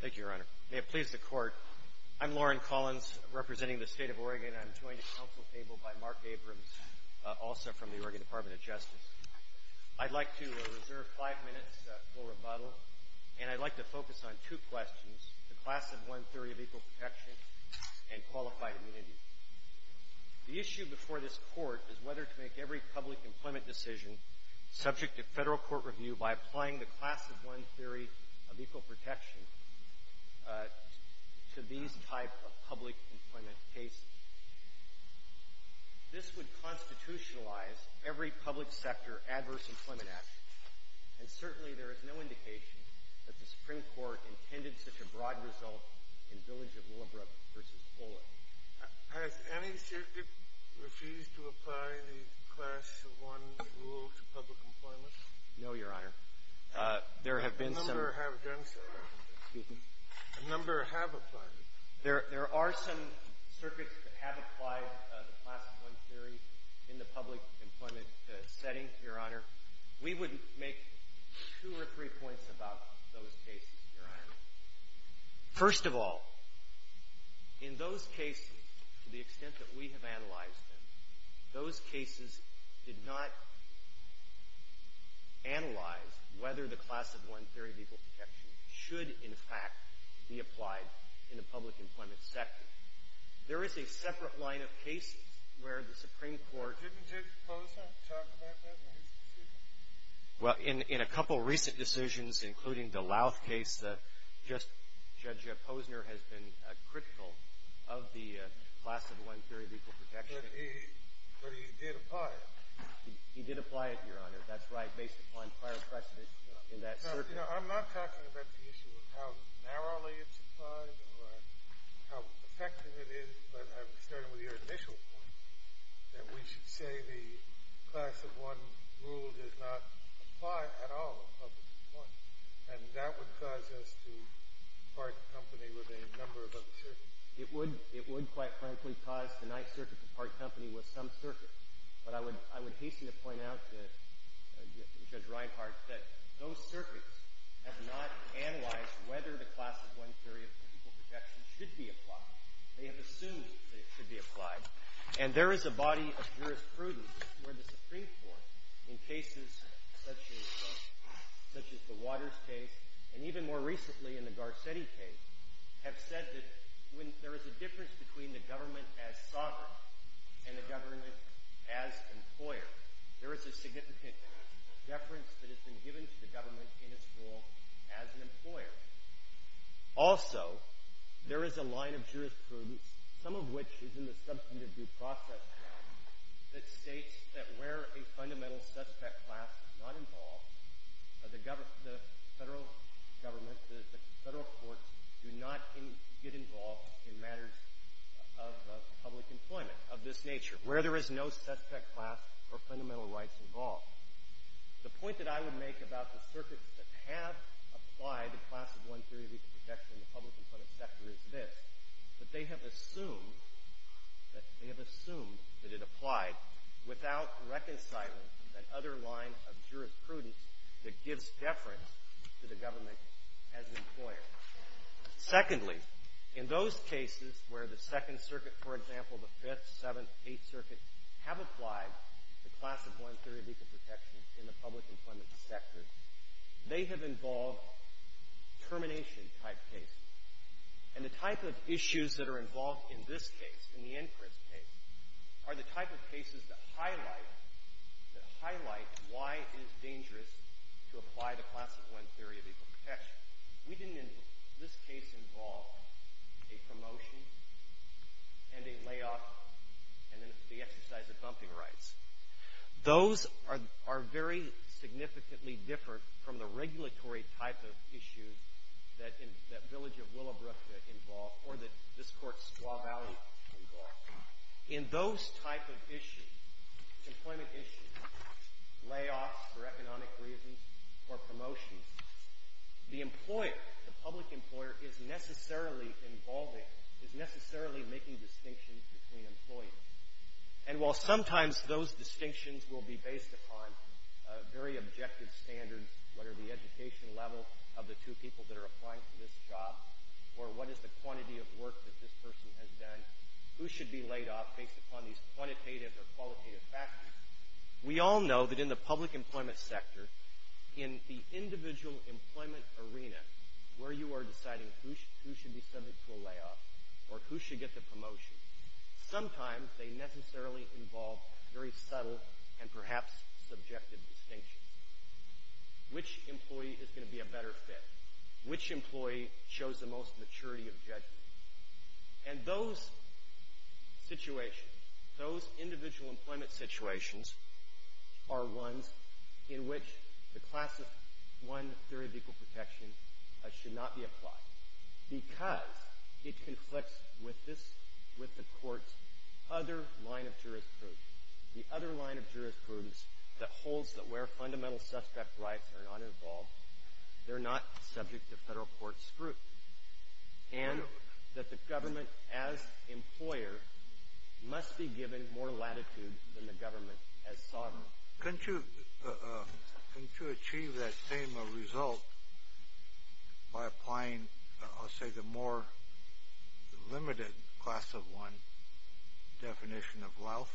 Thank you, Your Honor. May it please the Court, I'm Loren Collins, representing the State of Oregon, and I'm joined at the Council Table by Mark Abrams, also from the Oregon Department of Justice. I'd like to reserve five minutes for rebuttal, and I'd like to focus on two questions, the class of one theory of equal protection and qualified immunity. The issue before this Court is whether to make every public employment decision subject to federal court review by applying the class of one theory of equal protection to these type of public employment cases. This would constitutionalize every public sector Adverse Employment Act, and certainly there is no indication that the Supreme Court intended such a broad result in Village of Willowbrook v. Olin. Has any circuit refused to apply the class of one rule to public employment? No, Your Honor. There have been some. A number have done so. Excuse me? A number have applied it. There are some circuits that have applied the class of one theory in the public employment setting, Your Honor. We would make two or three points about those cases, Your Honor. First of all, in those cases, to the extent that we have analyzed them, those cases did not analyze whether the class of one theory of equal protection should, in fact, be applied in the public employment sector. There is a separate line of cases where the Supreme Court... Didn't Judge Closet talk about that in his decision? Well, in a couple recent decisions, including the Louth case, Judge Posner has been critical of the class of one theory of equal protection. But he did apply it. He did apply it, Your Honor. That's right, based upon prior precedent in that circuit. I'm not talking about the issue of how narrowly it's applied or how effective it is, but I'm saying the class of one rule does not apply at all in public employment, and that would cause us to part company with a number of other circuits. It would, quite frankly, cause the Ninth Circuit to part company with some circuit. But I would hasten to point out to Judge Reinhart that those circuits have not analyzed whether the class of one theory of equal protection should be applied. They have assumed that it should be applied, and there is a body of jurisprudence where the Supreme Court, in cases such as the Waters case, and even more recently in the Garcetti case, have said that when there is a difference between the government as sovereign and the government as employer, there is a significant deference that has been given to the government in its role as an employer. Also, there is a line of jurisprudence, some of which is in the substantive due process that states that where a fundamental suspect class is not involved, the federal government, the federal courts, do not get involved in matters of public employment of this nature, where there is no suspect class or fundamental rights involved. The point that I would make about the circuits that have applied the class of one theory of equal protection in the public employment sector is this, that they have assumed that it applied without reconciling that other line of jurisprudence that gives deference to the government as an employer. Secondly, in those cases where the Second Circuit, for example, the Fifth, Seventh, and Eighth Circuits have applied the class of one theory of equal protection in the public employment sector, they have involved termination-type cases. And the type of issues that are involved in this case, in the Inchrist case, are the type of cases that highlight why it is dangerous to apply the class of one theory of equal protection. We didn't, in this case, involve a promotion and a layoff and then the exercise of bumping rights. Those are very significantly different from the regulatory type of issues that Village of Willowbrook involved or that this Court's Squaw Valley involved. In those type of issues, employment issues, layoffs for economic reasons or promotions, the employer, the public employer, is necessarily involving, is necessarily making distinctions between employers. And while sometimes those distinctions will be based upon very objective standards, what are the educational level of the two people that are applying for this job, or what is the quantity of work that this person has done, who should be laid off based upon these quantitative or qualitative factors, we all know that in the public employment sector, in the individual employment arena where you are deciding who should be subject to a layoff or who should get the promotion, sometimes they necessarily involve very subtle and perhaps subjective distinctions. Which employee is going to be a better fit? Which employee shows the most maturity of judgment? And those situations, those individual employment situations, are ones in which the classic one theory of equal protection should not be applied because it conflicts with this, with the Court's other line of jurisprudence. The other line of jurisprudence that holds that where fundamental suspect rights are not involved, they're not subject to federal court scrutiny. And that the government as employer must be given more latitude than the government as sovereign. Couldn't you achieve that same result by applying, I'll say, the more limited classic one definition of loath?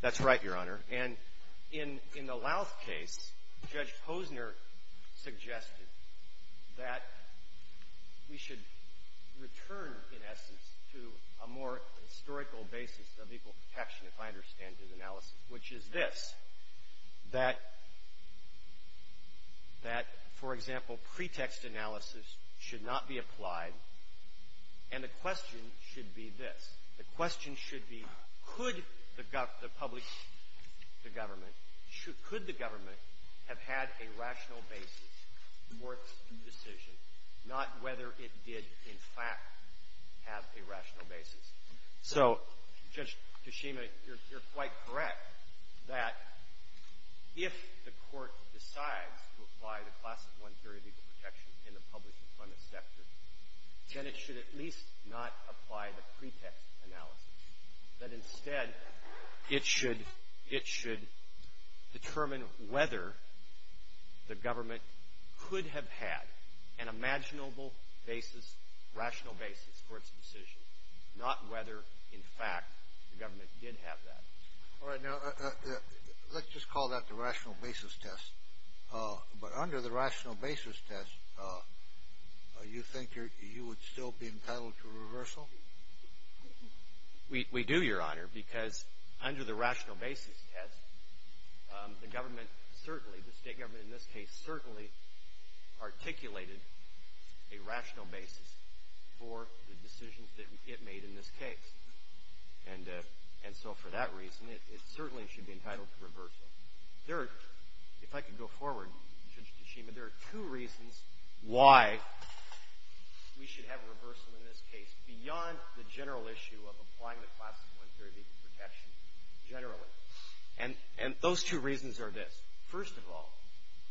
That's right, Your Honor. And in the loath case, Judge Posner suggested that we should return, in essence, to a more historical basis of equal protection, if I understand your analysis, which is this, that, for example, pretext analysis should not be applied. And the question should be this. The question should be, could the public, the government, could the government have had a rational basis for its decision, not whether it did, in fact, have a rational basis? So, Judge Kishima, you're quite correct that if the Court decides to apply the classic one theory of equal protection in the public employment sector, then it should at least not apply the pretext analysis. That instead, it should determine whether the government could have had an imaginable basis, rational basis for its decision, not whether, in fact, the government did have that. All right. Now, let's just call that the rational basis test. But under the rational basis test, you think you would still be entitled to reversal? We do, Your Honor, because under the rational basis test, the government, certainly, the state government in this case, certainly articulated a rational basis for the decisions that it made in this case. And so, for that reason, it certainly should be entitled to reversal. If I could go forward, Judge Kishima, there are two reasons why we should have reversal in this case, beyond the general issue of applying the classic one theory of equal protection, generally. And those two reasons are this. First of all,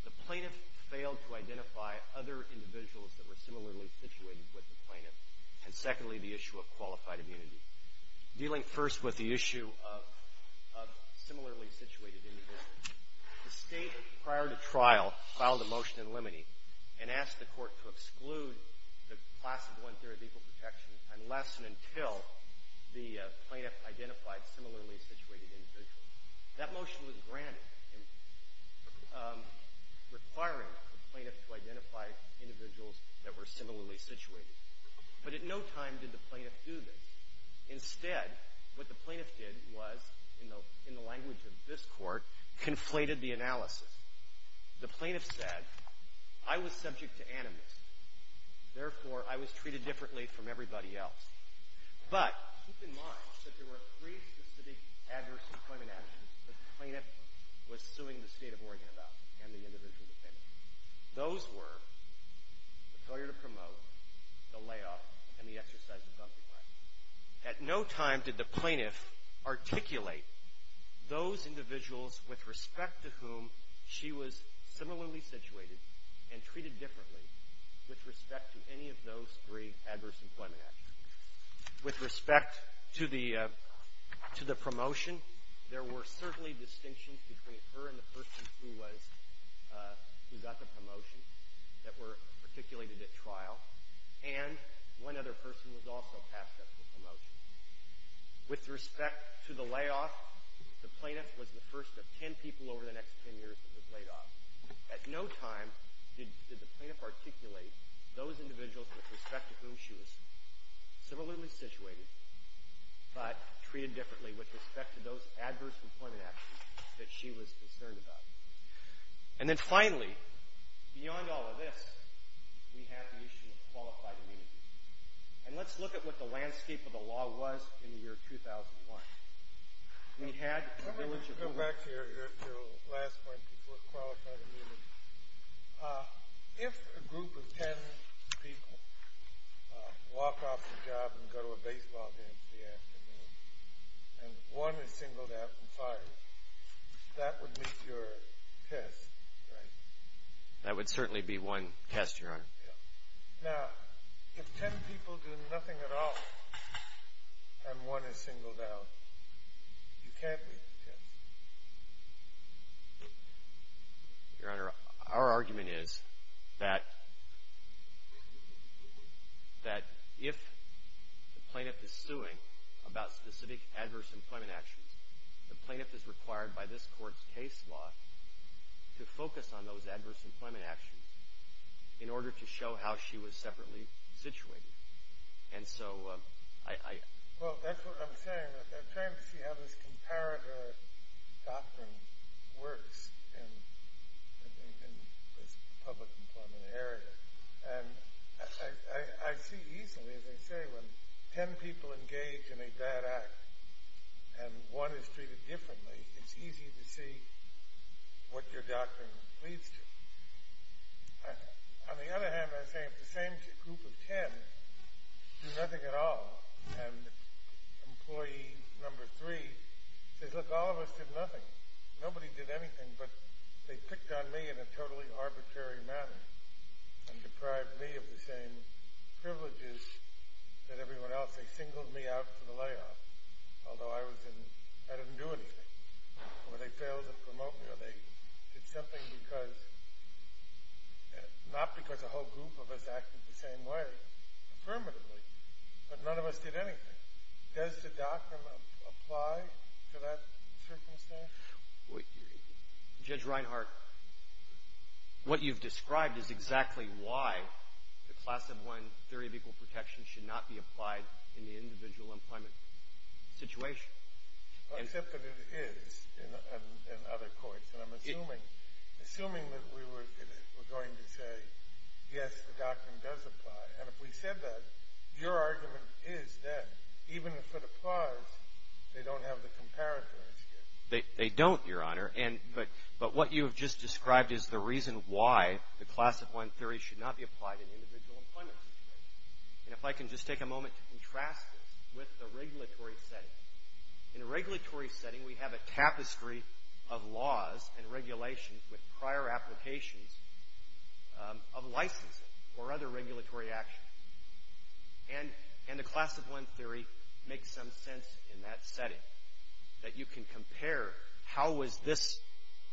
the plaintiff failed to identify other individuals that were similarly situated with the plaintiff. And secondly, the issue of qualified immunity. Dealing first with the issue of similarly situated individuals, the state, prior to trial, filed a motion in limine and asked the court to exclude the classic one theory of equal protection unless and until the plaintiff identified similarly situated individuals. That motion was granted, requiring the plaintiff to identify individuals that were similarly situated. But at no time did the plaintiff do this. Instead, what the plaintiff did was, in the language of this court, conflated the analysis. The plaintiff said, I was subject to animus. Therefore, I was treated differently from everybody else. But keep in mind that there were three specific adverse employment actions that the plaintiff was suing the State of Oregon about and the individual defendant. Those were the failure to promote, the layoff, and the exercise of dumping rights. At no time did the plaintiff articulate those individuals with respect to whom she was similarly situated and treated differently with respect to any of those three adverse employment actions. With respect to the promotion, there were certainly distinctions between her and the plaintiff who got the promotion that were articulated at trial, and one other person was also tasked with the promotion. With respect to the layoff, the plaintiff was the first of ten people over the next ten years that was laid off. At no time did the plaintiff articulate those individuals with respect to whom she was similarly situated but treated differently with respect to those adverse employment actions that she was concerned about. And then finally, beyond all of this, we have the issue of qualified immunity. And let's look at what the landscape of the law was in the year 2001. We had a village of lawyers. Let me just go back to your last point before qualified immunity. If a group of ten people walk off the job and go to a baseball game in the afternoon and one is singled out and fired, that would meet your test, right? That would certainly be one test, Your Honor. Now, if ten people do nothing at all and one is singled out, you can't meet the test. Your Honor, our argument is that if the plaintiff is suing about specific adverse employment actions, the plaintiff is required by this Court's case law to focus on those adverse employment actions in order to show how she was separately situated. Well, that's what I'm saying. I'm trying to see how this comparator doctrine works in this public employment area. And I see easily, as I say, when ten people engage in a bad act and one is treated differently, it's easy to see what your doctrine leads to. On the other hand, I say if the same group of ten do nothing at all and employee number three says, look, all of us did nothing. Nobody did anything, but they picked on me in a totally arbitrary manner and deprived me of the same privileges that everyone else. They singled me out for the layoff, although I didn't do anything. Or they failed to promote me or they did something because, not because a whole group of us acted the same way, affirmatively, but none of us did anything. Does the doctrine apply to that circumstance? Judge Reinhart, what you've described is exactly why the class of one theory of equal protection should not be applied in the individual employment situation. Except that it is in other courts. And I'm assuming that we're going to say, yes, the doctrine does apply. And if we said that, your argument is that, even if it applies, they don't have the comparator as yet. They don't, Your Honor. But what you have just described is the reason why the class of one theory should not be applied in the individual employment situation. And if I can just take a moment to contrast this with the regulatory setting. In a regulatory setting, we have a tapestry of laws and regulations with prior applications of licensing or other regulatory actions. And the class of one theory makes some sense in that setting, that you can compare how was this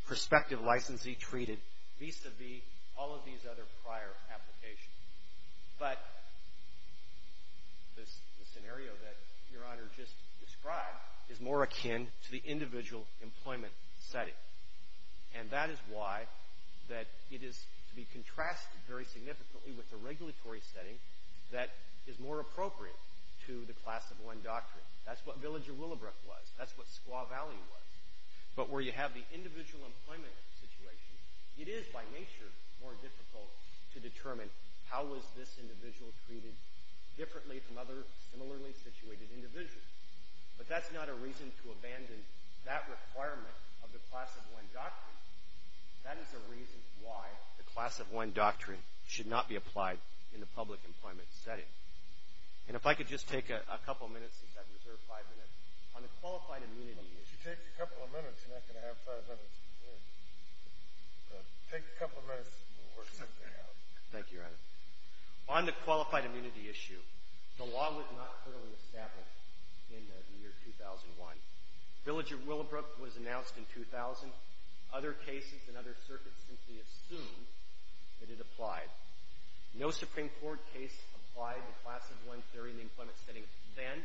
prospective licensee treated vis-a-vis all of these other prior applications. But the scenario that Your Honor just described is more akin to the individual employment setting. And that is why that it is to be contrasted very significantly with the regulatory setting that is more appropriate to the class of one doctrine. That's what Village of Willowbrook was. That's what Squaw Valley was. But where you have the individual employment situation, it is, by nature, more difficult to determine how was this individual treated differently from other similarly situated individuals. But that's not a reason to abandon that requirement of the class of one doctrine. That is a reason why the class of one doctrine should not be applied in the public employment setting. And if I could just take a couple of minutes, if I can reserve five minutes, on the qualified immunity issue. If you take a couple of minutes, you're not going to have five minutes to reserve. But take a couple of minutes and we'll work something out. Thank you, Your Honor. On the qualified immunity issue, the law was not clearly established in the year 2001. Village of Willowbrook was announced in 2000. Other cases and other circuits simply assumed that it applied. No Supreme Court case applied the class of one theory in the employment setting then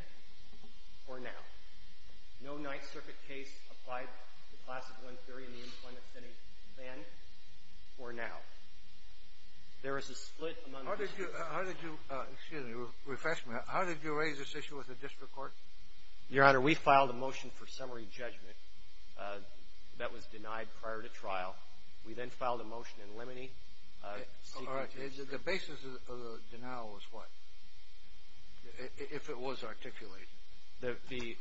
or now. No Ninth Circuit case applied the class of one theory in the employment setting then or now. There is a split among the two. How did you raise this issue with the district court? Your Honor, we filed a motion for summary judgment that was denied prior to trial. We then filed a motion in Lemony. All right. The basis of the denial was what, if it was articulated? The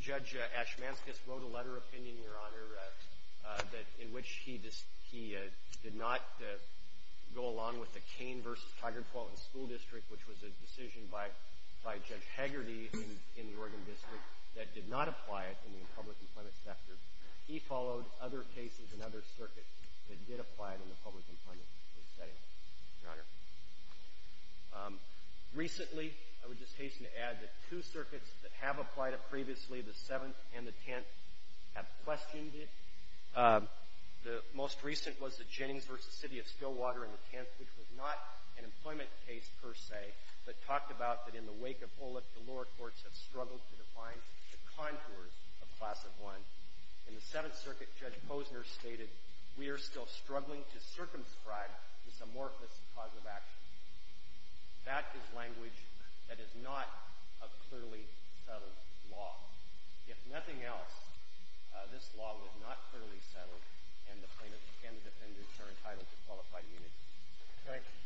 Judge Ashmanskas wrote a letter of opinion, Your Honor, in which he did not go along with the Cain v. Tigard-Fulton School District, which was a decision by Judge Haggerty in the Oregon district that did not apply it in the public employment sector. He followed other cases and other circuits that did apply it in the public employment setting, Your Honor. Recently, I would just hasten to add that two circuits that have applied it previously, the Seventh and the Tenth, have questioned it. The most recent was the Jennings v. City of Stillwater in the Tenth, which was not an employment case per se, but talked about that in the wake of Olyp, the lower courts have struggled to define the contours of class of one. In the Seventh Circuit, Judge Posner stated, We are still struggling to circumscribe this amorphous cause of action. That is language that is not a clearly settled law. If nothing else, this law was not clearly settled, and the plaintiffs and the defendants are entitled to qualified immunity. Thank you.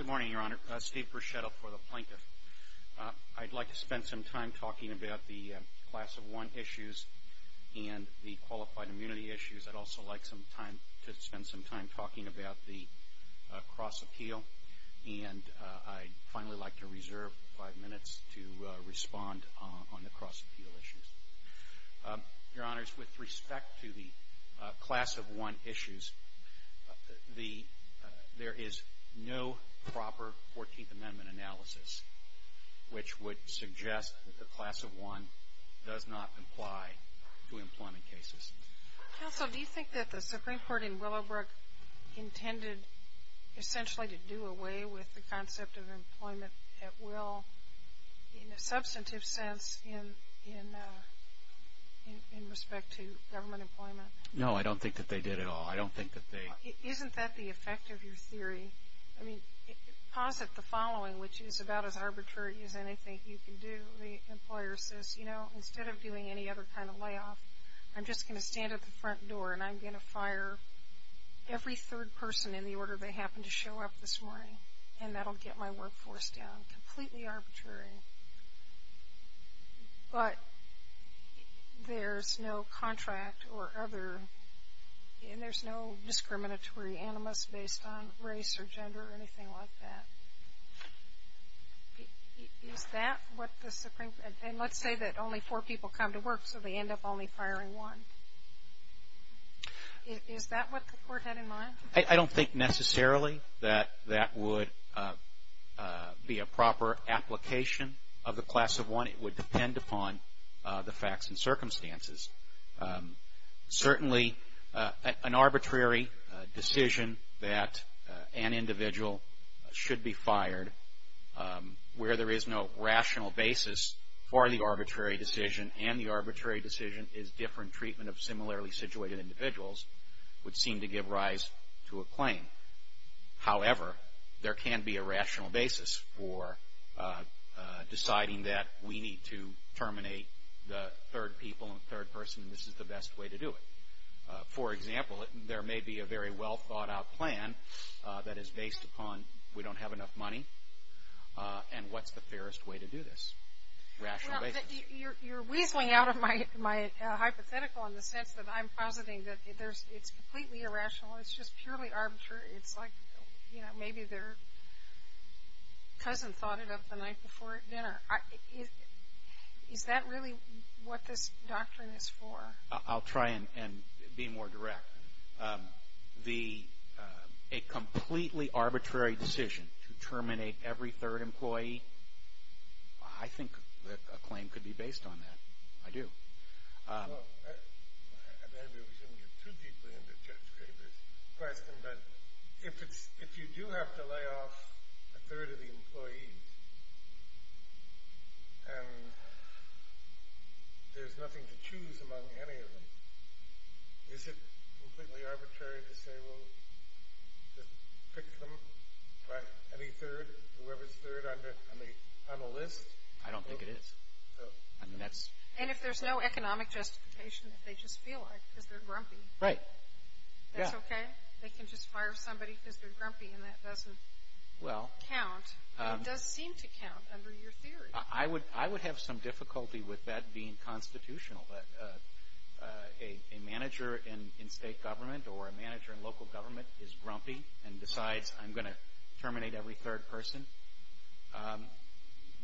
Good morning, Your Honor. Steve Bruschetto for the Plaintiff. I'd like to spend some time talking about the class of one issues and the qualified immunity issues. I'd also like to spend some time talking about the cross appeal, and I'd finally like to Your Honors, with respect to the class of one issues, there is no proper Fourteenth Amendment analysis which would suggest that the class of one does not apply to employment cases. Counsel, do you think that the Supreme Court in Willowbrook intended essentially to do away with the concept of employment at will in a substantive sense in respect to government employment? No, I don't think that they did at all. I don't think that they... Isn't that the effect of your theory? I mean, posit the following, which is about as arbitrary as anything you can do. The employer says, you know, instead of doing any other kind of layoff, I'm just going to stand at the front door, and I'm going to fire every third person in the order they do, and that'll get my workforce down. Completely arbitrary. But there's no contract or other... And there's no discriminatory animus based on race or gender or anything like that. Is that what the Supreme... And let's say that only four people come to work, so they end up only firing one. Is that what the Court had in mind? I don't think necessarily that that would be a proper application of the class of one. It would depend upon the facts and circumstances. Certainly, an arbitrary decision that an individual should be fired where there is no rational basis for the arbitrary decision, and the arbitrary decision is different treatment of to a claim. However, there can be a rational basis for deciding that we need to terminate the third people and third person, and this is the best way to do it. For example, there may be a very well thought out plan that is based upon we don't have enough money, and what's the fairest way to do this? Rational basis. You're weaseling out of my hypothetical in the sense that I'm positing that it's completely irrational. It's just purely arbitrary. It's like maybe their cousin thought it up the night before dinner. Is that really what this doctrine is for? I'll try and be more direct. A completely arbitrary decision to terminate every third employee, I think a claim could be based on that. I do. Maybe we shouldn't get too deeply into Judge Kramer's question, but if you do have to lay off a third of the employees, and there's nothing to choose among any of them, is it completely arbitrary to say we'll just pick them by any third, whoever's third on a list? I don't think it is. And if there's no economic justification, if they just feel like it because they're grumpy. Right. That's okay? They can just fire somebody because they're grumpy, and that doesn't count. It does seem to count under your theory. I would have some difficulty with that being constitutional, that a manager in state government or a manager in local government is grumpy and decides I'm going to terminate every third person.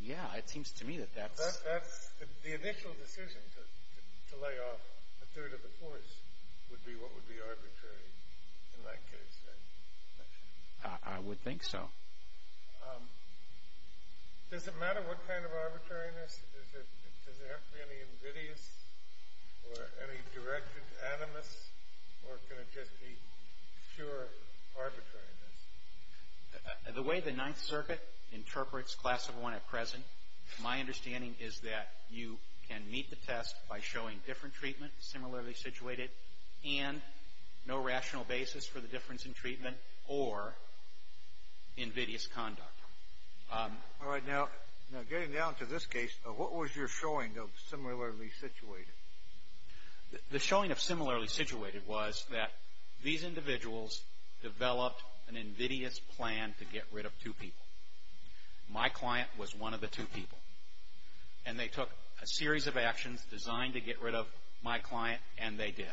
Yeah, it seems to me that that's... The initial decision to lay off a third of the force would be what would be arbitrary in that case, right? I would think so. Does it matter what kind of arbitrariness? Does it have to be any invidious or any directed animus, or can it just be pure arbitrariness? The way the Ninth Circuit interprets Class of 1 at present, my understanding is that you can meet the test by showing different treatment, similarly situated, and no rational basis for the difference in treatment or invidious conduct. All right. Now, getting down to this case, what was your showing of similarly situated? The showing of similarly situated was that these individuals developed an invidious plan to get rid of two people. My client was one of the two people, and they took a series of actions designed to get rid of my client, and they did.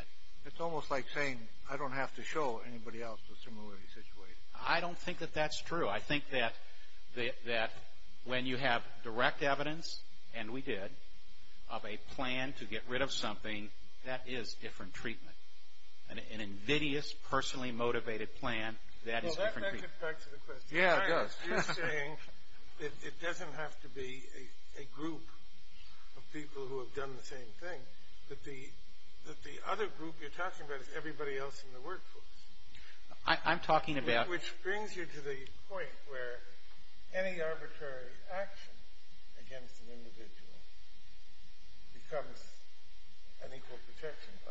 It's almost like saying I don't have to show anybody else the similarly situated. I don't think that that's true. I think that when you have direct evidence, and we did, of a plan to get rid of something, that is different treatment. An invidious, personally motivated plan, that is different treatment. Well, that gets back to the question. Yeah, it does. You're saying that it doesn't have to be a group of people who have done the same thing, that the other group you're talking about is everybody else in the workforce. I'm talking about... Which brings you to the point where any arbitrary action against an individual becomes an equal protection violation.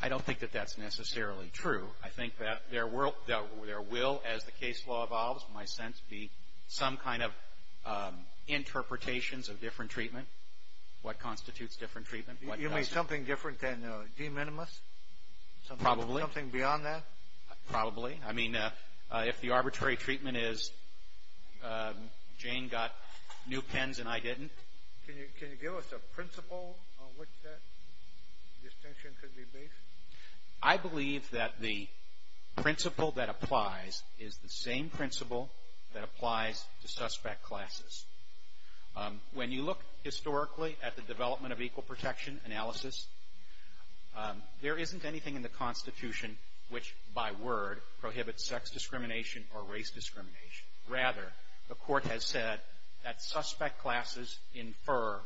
I don't think that that's necessarily true. I think that there will, as the case law evolves, in my sense, be some kind of interpretations of different treatment, what constitutes different treatment. You mean something different than de minimis? Probably. Something beyond that? Probably. I mean, if the arbitrary treatment is Jane got new pens and I didn't. Can you give us a principle on which that distinction could be based? I believe that the principle that applies is the same principle that applies to suspect classes. When you look historically at the development of equal protection analysis, there isn't anything in the Constitution which, by word, prohibits sex discrimination or race discrimination. Rather, the Court has said that suspect classes infer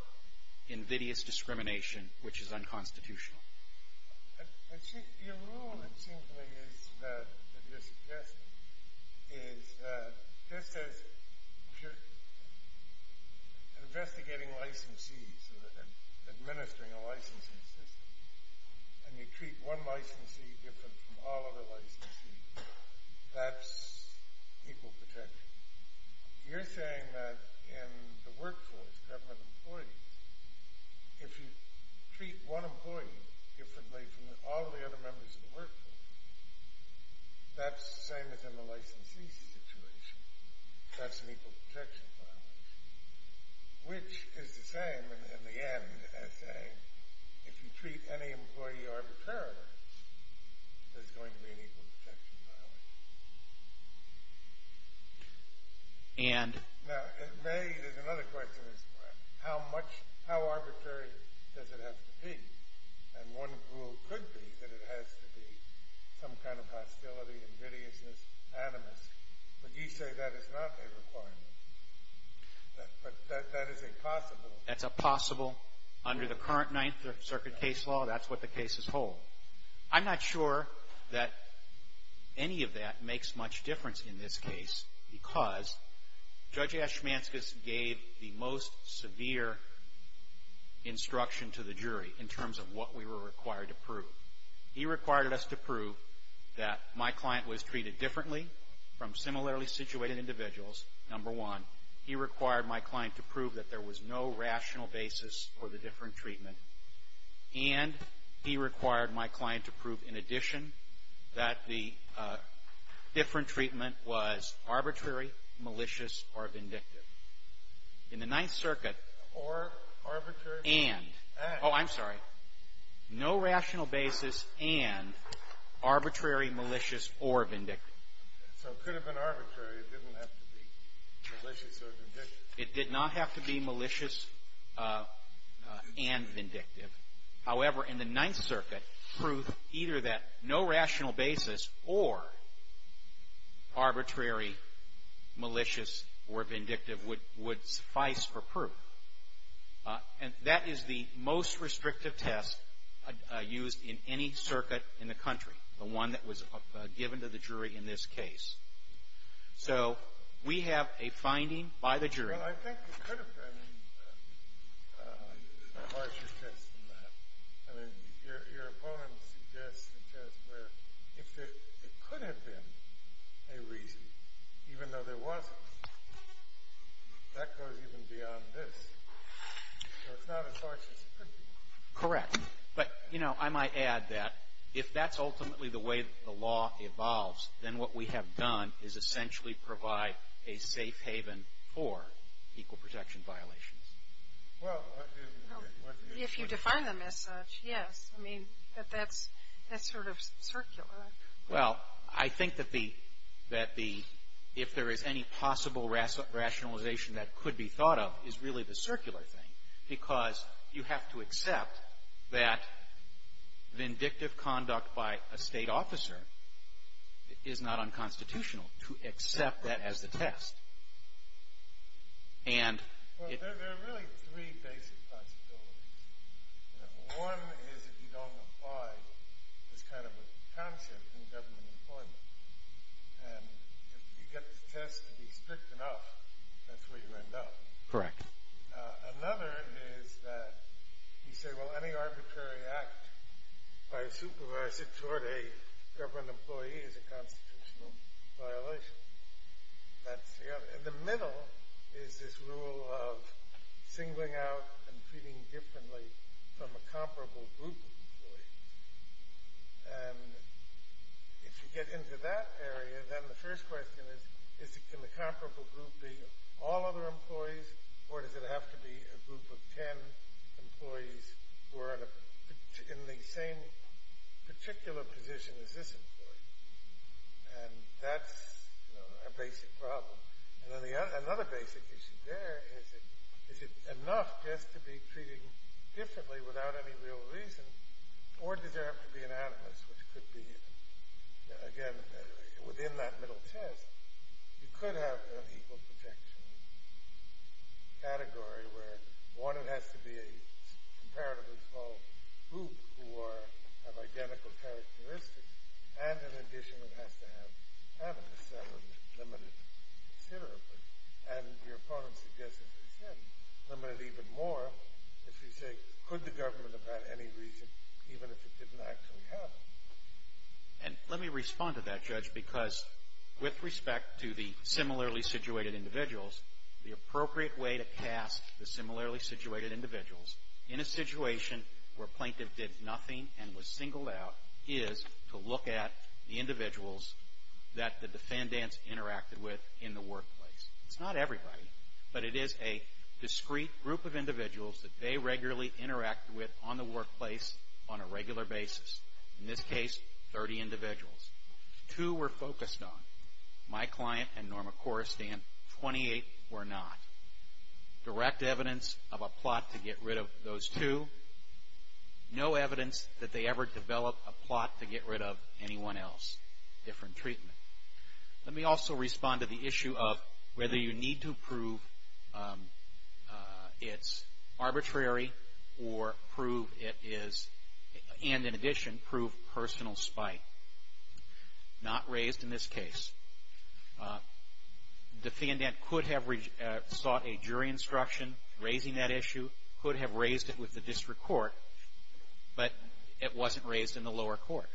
invidious discrimination, which is unconstitutional. Your rule, it seems to me, that you're suggesting, is that just as you're investigating licensees and administering a licensing system and you treat one licensee different from all other licensees, that's equal protection. You're saying that in the workforce, government employees, if you treat one employee differently from all the other members of the workforce, that's the same as in the licensee situation. That's an equal protection violation. Which is the same, in the end, as saying if you treat any employee arbitrarily, there's going to be an equal protection violation. Now, another question is how arbitrary does it have to be? And one rule could be that it has to be some kind of hostility, invidiousness, animus. But you say that is not a requirement. But that is a possible. That's a possible. Under the current Ninth Circuit case law, that's what the cases hold. I'm not sure that any of that makes much difference in this case because Judge Ashmanskas gave the most severe instruction to the jury in terms of what we were required to prove. He required us to prove that my client was treated differently from similarly situated individuals, number one. He required my client to prove that there was no rational basis for the different treatment. And he required my client to prove, in addition, that the different treatment was arbitrary, malicious, or vindictive. In the Ninth Circuit, and — Or arbitrary. And. Oh, I'm sorry. No rational basis and arbitrary, malicious, or vindictive. So it could have been arbitrary. It didn't have to be malicious or vindictive. It did not have to be malicious and vindictive. However, in the Ninth Circuit, proof either that no rational basis or arbitrary, malicious, or vindictive would suffice for proof. And that is the most restrictive test used in any circuit in the country, the one that was given to the jury in this case. So we have a finding by the jury. Well, I think it could have been a harsher test than that. I mean, your opponent suggests a test where if there could have been a reason, even though there wasn't, that goes even beyond this. So it's not as harsh as it could be. Correct. But, you know, I might add that if that's ultimately the way the law evolves, then what we have done is essentially provide a safe haven for equal protection violations. Well, if you define them as such, yes. I mean, that's sort of circular. Well, I think that if there is any possible rationalization that could be thought of is really the circular thing because you have to accept that vindictive conduct by a State officer is not unconstitutional to accept that as the test. And it — Well, there are really three basic possibilities. One is if you don't apply this kind of a concept in government employment. And if you get the test to be strict enough, that's where you end up. Correct. Another is that you say, well, any arbitrary act by a supervisor toward a government employee is a constitutional violation. That's the other. And the middle is this rule of singling out and treating differently from a comparable group of employees. And if you get into that area, then the first question is, can the comparable group be all other employees, or does it have to be a group of ten employees who are in the same particular position as this employee? And that's a basic problem. And another basic issue there is, is it enough just to be treated differently without any real reason, or does there have to be an animus, which could be, again, within that middle test, you could have an equal protection category where, one, it has to be a comparatively small group who have identical characteristics, and in addition, it has to have animus. That would limit it considerably. And your opponent suggests, as I said, limit it even more if you say, could the government have had any reason, even if it didn't actually have it? And let me respond to that, Judge, because with respect to the similarly situated individuals, the appropriate way to cast the similarly situated individuals in a situation where a plaintiff did nothing and was singled out is to look at the individuals that the defendants interacted with in the workplace. It's not everybody, but it is a discrete group of individuals that they regularly interact with on the workplace on a regular basis. In this case, 30 individuals. Two were focused on. My client and Norma Korestan, 28 were not. Direct evidence of a plot to get rid of those two. No evidence that they ever developed a plot to get rid of anyone else. Different treatment. Let me also respond to the issue of whether you need to prove it's arbitrary or prove it is, and in addition, prove personal spite. Not raised in this case. Defendant could have sought a jury instruction raising that issue, could have raised it with the district court, but it wasn't raised in the lower court.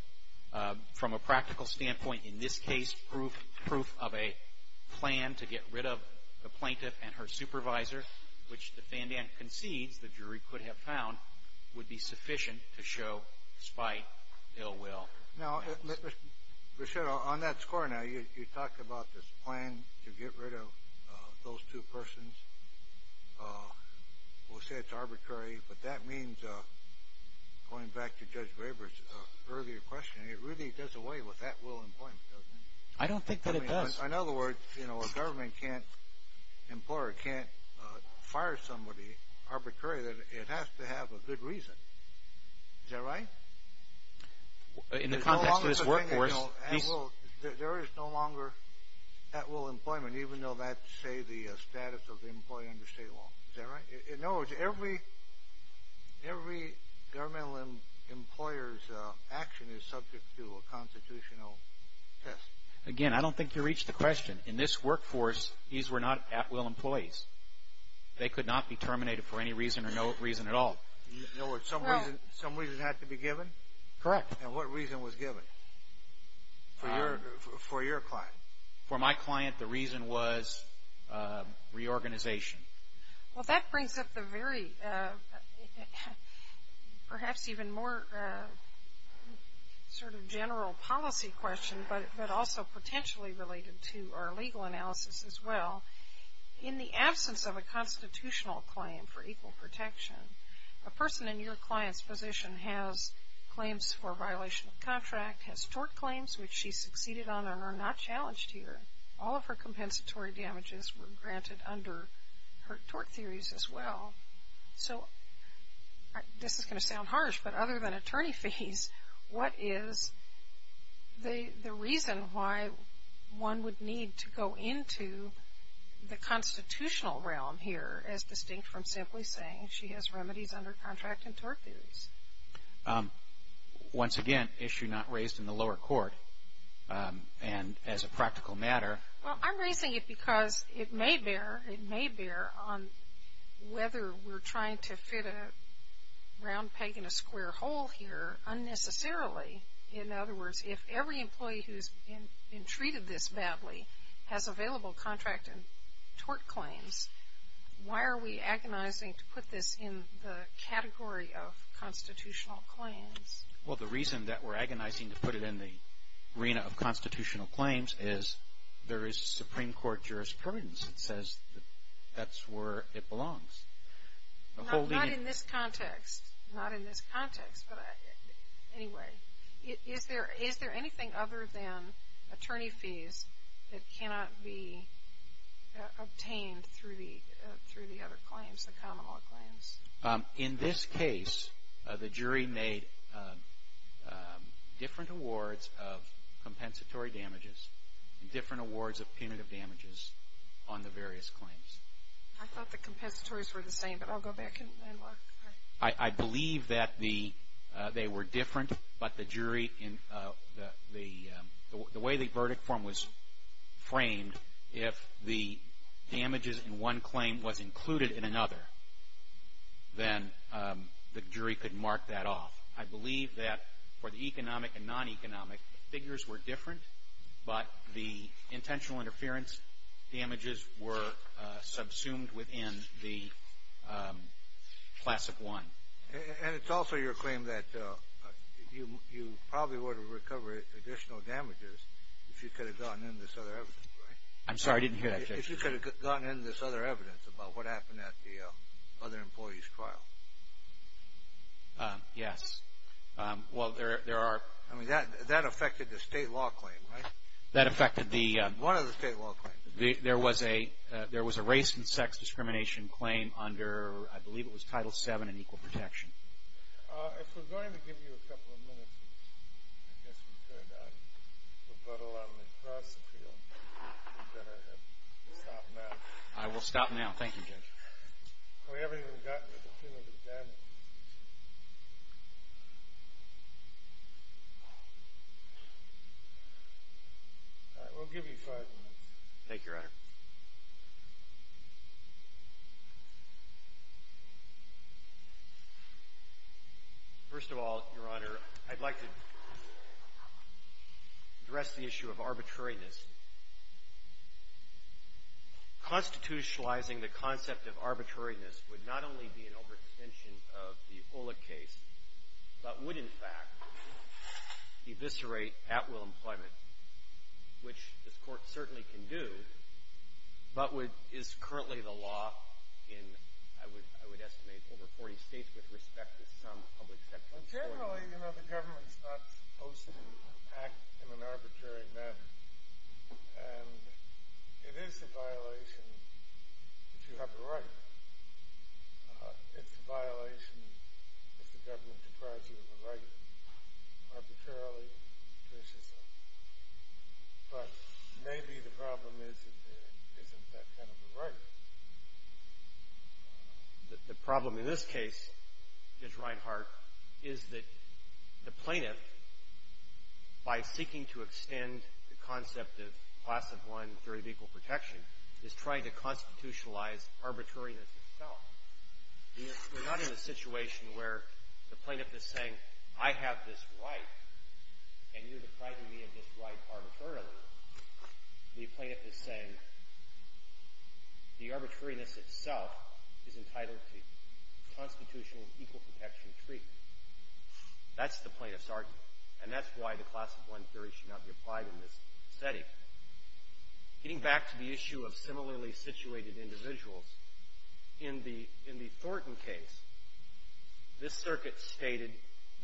From a practical standpoint, in this case, proof of a plan to get rid of the plaintiff and her supervisor, which the defendant concedes the jury could have found, would be sufficient to show spite, ill will. Now, on that score now, you talked about this plan to get rid of those two persons. We'll say it's arbitrary, but that means, going back to Judge Graber's earlier question, it really does away with at-will employment, doesn't it? I don't think that it does. In other words, you know, a government can't, employer can't fire somebody arbitrarily. It has to have a good reason. Is that right? In the context of this workforce. There is no longer at-will employment, even though that's, say, the status of the employee under state law. Is that right? In other words, every governmental employer's action is subject to a constitutional test. Again, I don't think you reached the question. In this workforce, these were not at-will employees. They could not be terminated for any reason or no reason at all. In other words, some reason had to be given? Correct. And what reason was given for your client? For my client, the reason was reorganization. Well, that brings up the very, perhaps even more sort of general policy question, but also potentially related to our legal analysis as well. In the absence of a constitutional claim for equal protection, a person in your client's position has claims for violation of contract, has tort claims, which she succeeded on and are not challenged here. All of her compensatory damages were granted under her tort theories as well. So this is going to sound harsh, but other than attorney fees, what is the reason why one would need to go into the constitutional realm here as distinct from simply saying she has remedies under contract and tort theories? Once again, issue not raised in the lower court. And as a practical matter. Well, I'm raising it because it may bear. It may bear on whether we're trying to fit a round peg in a square hole here unnecessarily. In other words, if every employee who's been treated this badly has available contract and tort claims, why are we agonizing to put this in the category of constitutional claims? Well, the reason that we're agonizing to put it in the arena of constitutional claims is there is Supreme Court jurisprudence that says that's where it belongs. Not in this context. Not in this context, but anyway. Is there anything other than attorney fees that cannot be obtained through the other claims, the common law claims? In this case, the jury made different awards of compensatory damages and different awards of punitive damages on the various claims. I thought the compensatories were the same, but I'll go back and look. I believe that they were different, but the jury in the way the verdict form was framed, if the damages in one claim was included in another, then the jury could mark that off. I believe that for the economic and non-economic, the figures were different, but the intentional interference damages were subsumed within the classic one. And it's also your claim that you probably would have recovered additional damages if you could have gotten in this other evidence, right? I'm sorry, I didn't hear that, Judge. If you could have gotten in this other evidence about what happened at the other employee's trial. Yes. Well, there are. I mean, that affected the state law claim, right? That affected the... What are the state law claims? There was a race and sex discrimination claim under, I believe it was Title VII in Equal Protection. If we're going to give you a couple of minutes, I guess we could. We've got a lot on the cross field. We'd better stop now. I will stop now. Thank you, Judge. We haven't even gotten to the punitive damages. All right, we'll give you five minutes. Thank you, Your Honor. First of all, Your Honor, I'd like to address the issue of arbitrariness. Constitutionalizing the concept of arbitrariness would not only be an overextension of the Olick case, but would, in fact, eviscerate at-will employment, which this Court certainly can do, but is currently the law in, I would estimate, over 40 states with respect to some public sectors. Well, generally, you know, the government's not supposed to act in an arbitrary manner, and it is a violation if you have a right. It's a violation if the government deprives you of a right arbitrarily to do so. But maybe the problem is that there isn't that kind of a right. The problem in this case, Judge Reinhart, is that the plaintiff, by seeking to extend the concept of Class of 1, Theory of Equal Protection, is trying to constitutionalize arbitrariness itself. We're not in a situation where the plaintiff is saying, I have this right, and you're depriving me of this right arbitrarily. The plaintiff is saying the arbitrariness itself is entitled to constitutional equal protection treatment. That's the plaintiff's argument, and that's why the Class of 1, Theory should not be applied in this setting. Getting back to the issue of similarly situated individuals, in the Thornton case, this circuit stated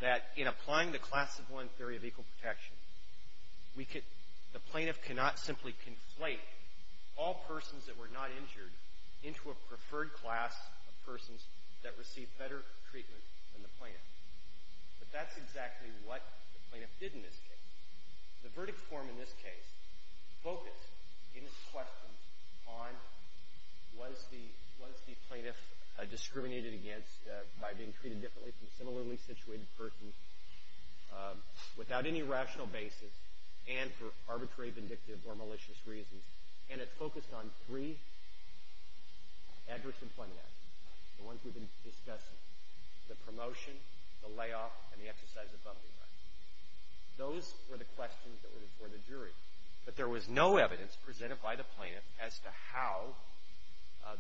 that in applying the Class of 1, Theory of Equal Protection, the plaintiff cannot simply conflate all persons that were not injured into a preferred class of persons that received better treatment than the plaintiff. But that's exactly what the plaintiff did in this case. The verdict form in this case focused, in its question, on was the plaintiff discriminated against by being treated differently from similarly situated persons without any rational basis and for arbitrary, vindictive, or malicious reasons. And it focused on three adverse employment actions, the ones we've been discussing, the promotion, the layoff, and the exercise of bumping rights. Those were the questions that were before the jury. But there was no evidence presented by the plaintiff as to how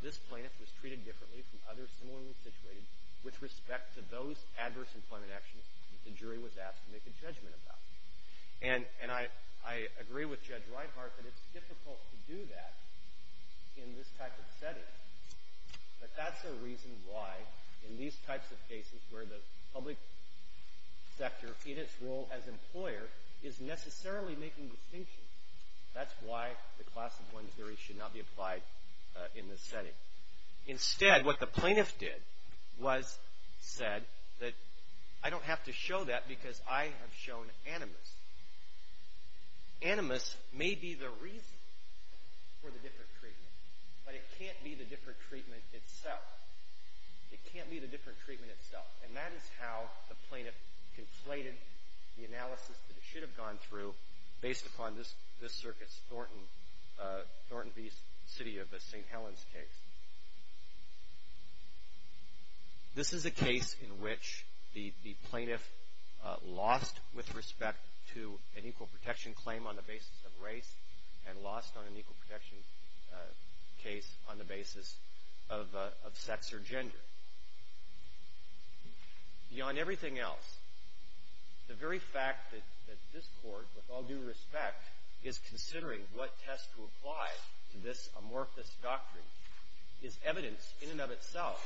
this plaintiff was treated differently from others similarly situated with respect to those adverse employment actions that the jury was asked to make a judgment about. And I agree with Judge Reinhart that it's difficult to do that in this type of setting. But that's the reason why in these types of cases where the public sector, in its role as employer, is necessarily making distinctions. That's why the class of one theory should not be applied in this setting. Instead, what the plaintiff did was said that I don't have to show that because I have shown animus. Animus may be the reason for the different treatment, but it can't be the different treatment itself. It can't be the different treatment itself. And that is how the plaintiff conflated the analysis that it should have gone through based upon this circuit's Thornton v. City of St. Helens case. This is a case in which the plaintiff lost with respect to an equal protection claim on the basis of race and lost on an equal protection case on the basis of sex or gender. Beyond everything else, the very fact that this Court, with all due respect, is considering what test to apply to this amorphous doctrine is evidence in and of itself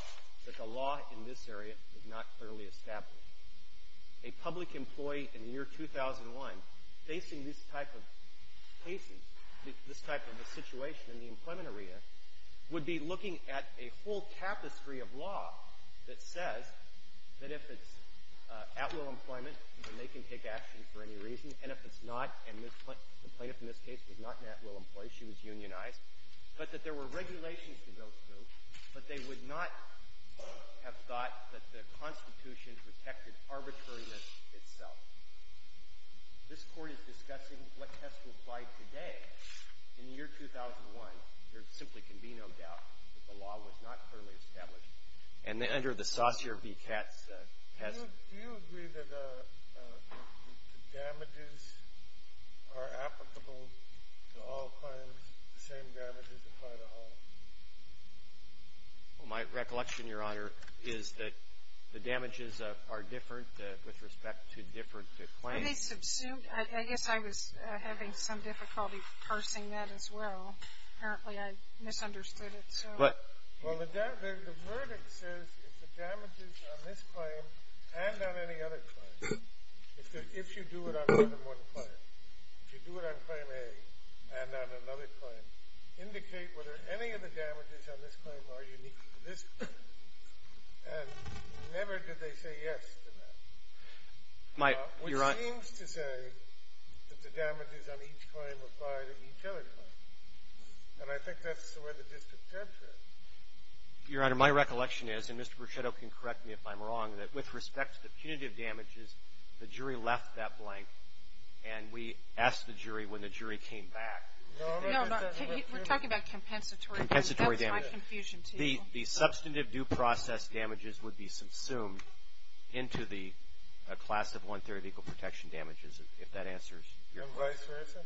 that the law in this area is not clearly established. A public employee in the year 2001 facing this type of situation in the employment arena would be looking at a whole tapestry of law that says that if it's at-will employment, then they can take action for any reason, and if it's not, and the plaintiff in this case was not at-will employed, she was unionized, but that there were regulations to go through, but they would not have thought that the Constitution protected arbitrariness itself. This Court is discussing what test will apply today in the year 2001. There simply can be no doubt that the law was not clearly established. And under the Saussure v. Katz test. Do you agree that the damages are applicable to all claims, the same damages apply to all? My recollection, Your Honor, is that the damages are different with respect to different claims. I guess I was having some difficulty parsing that as well. Apparently, I misunderstood it. Well, the verdict says if the damages on this claim and on any other claim, if you do it on more than one claim, if you do it on claim A and on another claim, indicate whether any of the damages on this claim are unique to this claim. And never did they say yes to that. It seems to say that the damages on each claim apply to each other claim, and I think that's the way the district judge is. Your Honor, my recollection is, and Mr. Bruchetto can correct me if I'm wrong, that with respect to the punitive damages, the jury left that blank, and we asked the jury when the jury came back. No, no. We're talking about compensatory damages. Compensatory damages. That's my confusion, too. The substantive due process damages would be subsumed into the class of one-third of equal protection damages, if that answers your question. And vice versa?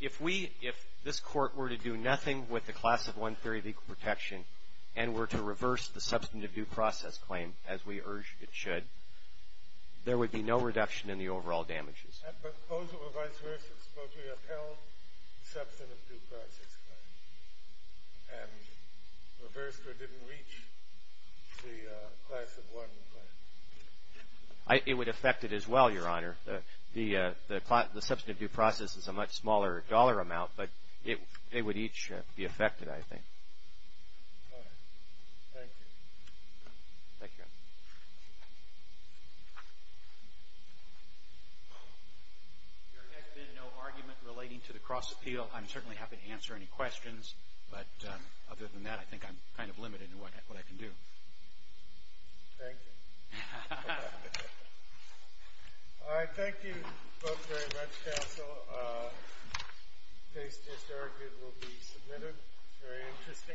If we, if this Court were to do nothing with the class of one-third of equal protection and were to reverse the substantive due process claim, as we urged it should, there would be no reduction in the overall damages. But both of them, vice versa, supposedly upheld the substantive due process claim and reversed or didn't reach the class of one claim. It would affect it as well, Your Honor. The substantive due process is a much smaller dollar amount, but it would each be affected, I think. All right. Thank you. Thank you, Your Honor. There has been no argument relating to the cross-appeal. I'm certainly happy to answer any questions, but other than that I think I'm kind of limited in what I can do. Thank you. All right. Thank you both very much, counsel. Case disargued will be submitted. Very interesting. Thank you.